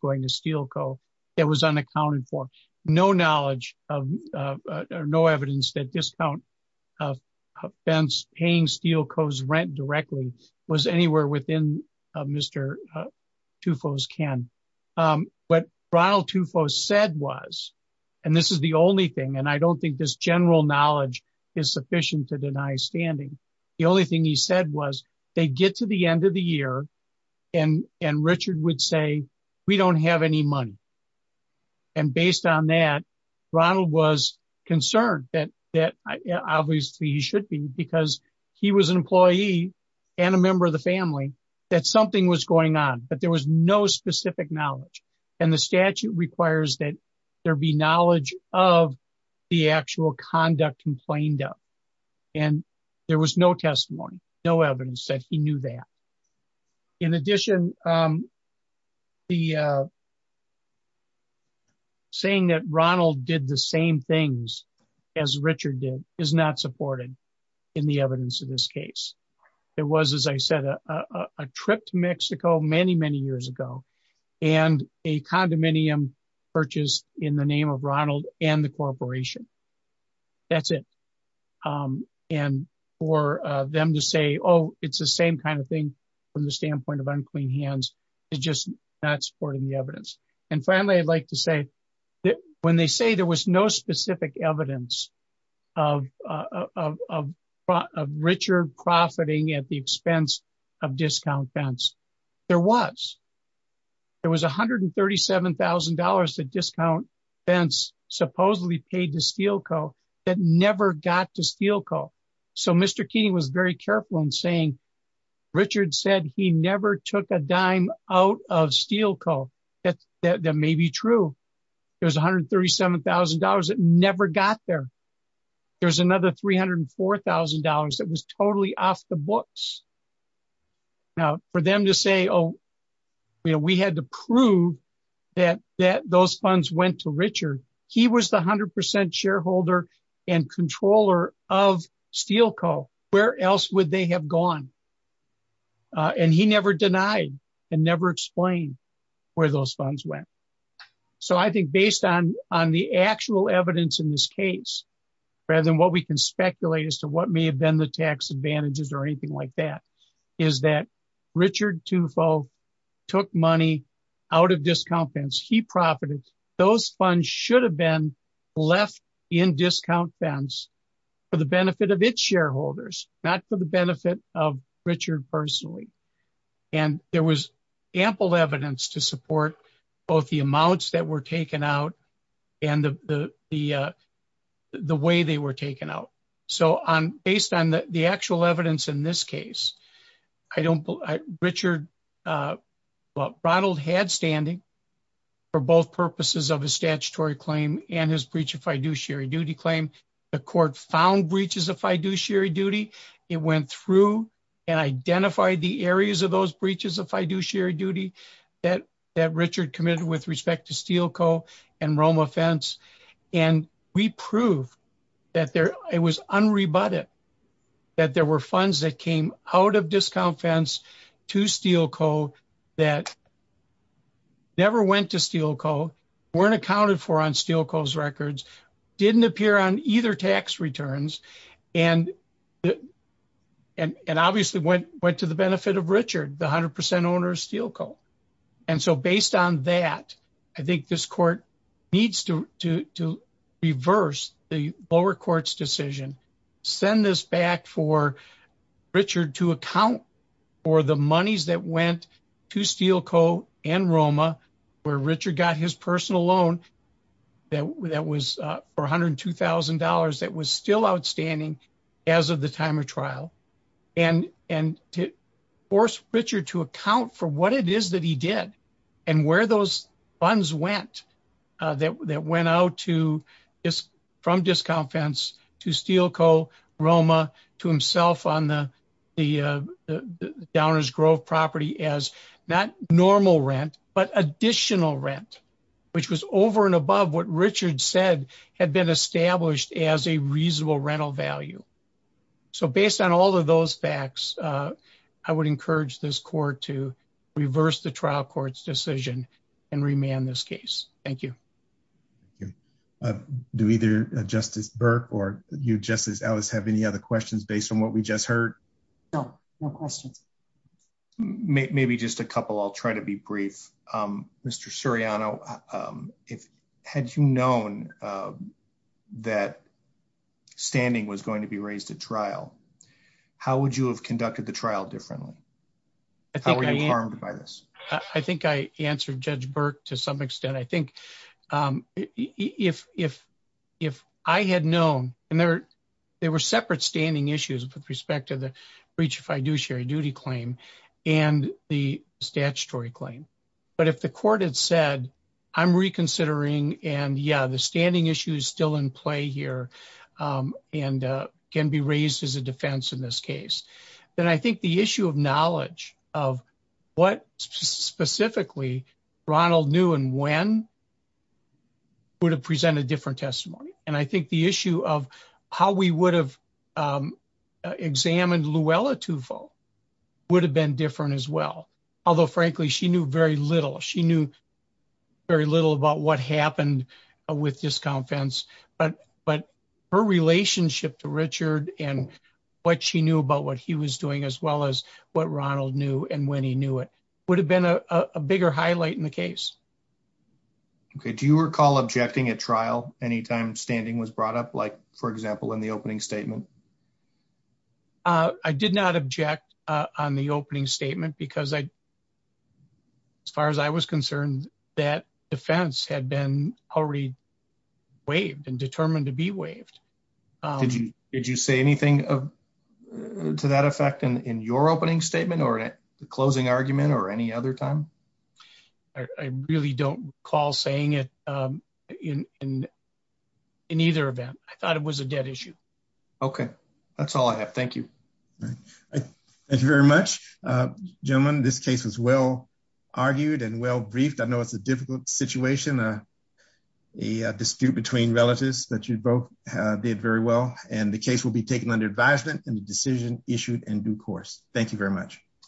going to Steelco that was unaccounted for. No knowledge of, uh, uh, no evidence that discount, uh, offense paying Steelco's rent directly was anywhere within, uh, Mr. Tufo's can. Um, but Ronald Tufo said was, and this is the only thing, and I don't think this general knowledge is sufficient to deny standing. The only thing he said was they'd get to the end of the year and, and Richard would say, we don't have any money. And based on that, Ronald was concerned that, that obviously he should be because he was an employee and a member of the family that something was going on, but there was no specific knowledge. And the statute requires that there be knowledge of the actual conduct complained of, and there was no testimony, no evidence that he knew that. In addition, um, the, uh, saying that Ronald did the same things as Richard did is not supported in the evidence of this case. It was, as I said, a, a, a trip to Mexico many, many years ago and a condominium purchased in the it's the same kind of thing from the standpoint of unclean hands is just not supporting the evidence. And finally, I'd like to say that when they say there was no specific evidence of, uh, of, of, of Richard profiting at the expense of discount fence, there was, there was $137,000 to discount fence supposedly paid to Steelco that never got to Steelco. So Mr. Keating was very careful in saying, Richard said he never took a dime out of Steelco. That's that may be true. There was $137,000 that never got there. There's another $304,000 that was totally off the books now for them to say, Oh, we had to prove that, that those funds went to Richard. He was the a hundred percent shareholder and controller of Steelco where else would they have gone? Uh, and he never denied and never explained where those funds went. So I think based on, on the actual evidence in this case, rather than what we can speculate as to what may have been the tax advantages or anything like that is that Richard Tufo took money out of discount fence. He profited. Those funds should have been left in discount fence for the benefit of its shareholders, not for the benefit of Richard personally. And there was ample evidence to support both the amounts that were taken out and the, the, uh, the way they were taken out. So on, based on the actual evidence in this case, I don't believe Richard, uh, Ronald had standing for both purposes of a statutory claim and his fiduciary duty claim. The court found breaches of fiduciary duty. It went through and identified the areas of those breaches of fiduciary duty that, that Richard committed with respect to Steelco and Roma fence. And we prove that there, it was unrebutted that there were funds that came out of discount fence to Steelco that never went to Steelco, weren't accounted for on Steelco's didn't appear on either tax returns. And, and, and obviously went, went to the benefit of Richard, the a hundred percent owner of Steelco. And so based on that, I think this court needs to, to, to reverse the lower courts decision, send this back for Richard to account for the monies that went to Steelco and Roma where Richard got his personal loan that, that was a $402,000. That was still outstanding as of the time of trial and, and to force Richard to account for what it is that he did and where those funds went, uh, that, that went out to this from discount to Steelco Roma to himself on the, the, uh, the Downers Grove property as not normal rent, but additional rent, which was over and above what Richard said had been established as a reasonable rental value. So based on all of those facts, uh, I would encourage this court to reverse the trial court's decision and remand this case. Thank you. Uh, do either justice Burke or you just as Alice have any other questions based on what we just heard? No, no questions. Maybe just a couple. I'll try to be brief. Um, Mr. Suriano, um, if, had you known, um, that standing was going to be raised at trial, how would you have conducted the trial differently? I think I am harmed by this. I think I answered judge Burke to some extent. I if, if, if I had known and there, there were separate standing issues with respect to the breach, if I do share a duty claim and the statutory claim, but if the court had said, I'm reconsidering and yeah, the standing issue is still in play here. Um, and, uh, can be raised as a defense in this case. Then I think the issue of knowledge of what specifically Ronald knew and when to present a different testimony. And I think the issue of how we would have, um, uh, examined Luella Tufo would have been different as well. Although frankly, she knew very little. She knew very little about what happened with this conference, but, but her relationship to Richard and what she knew about what he was doing as well as what Ronald knew. And when he knew it would have been a, a bigger highlight in the case. Okay. Do you recall objecting at trial? Anytime standing was brought up, like for example, in the opening statement? Uh, I did not object, uh, on the opening statement because I, as far as I was concerned that defense had been already waived and determined to be waived. Um, did you, did you say anything of, to that effect in, in your opening statement or at the closing argument or any other time? I really don't recall saying it, um, in, in, in either event, I thought it was a dead issue. Okay. That's all I have. Thank you. Thank you very much. Uh, gentlemen, this case was well argued and well briefed. I know it's a difficult situation, uh, a dispute between relatives that you'd both, uh, did very well and the case will be taken under advisement and the decision issued and due course. Thank you very much.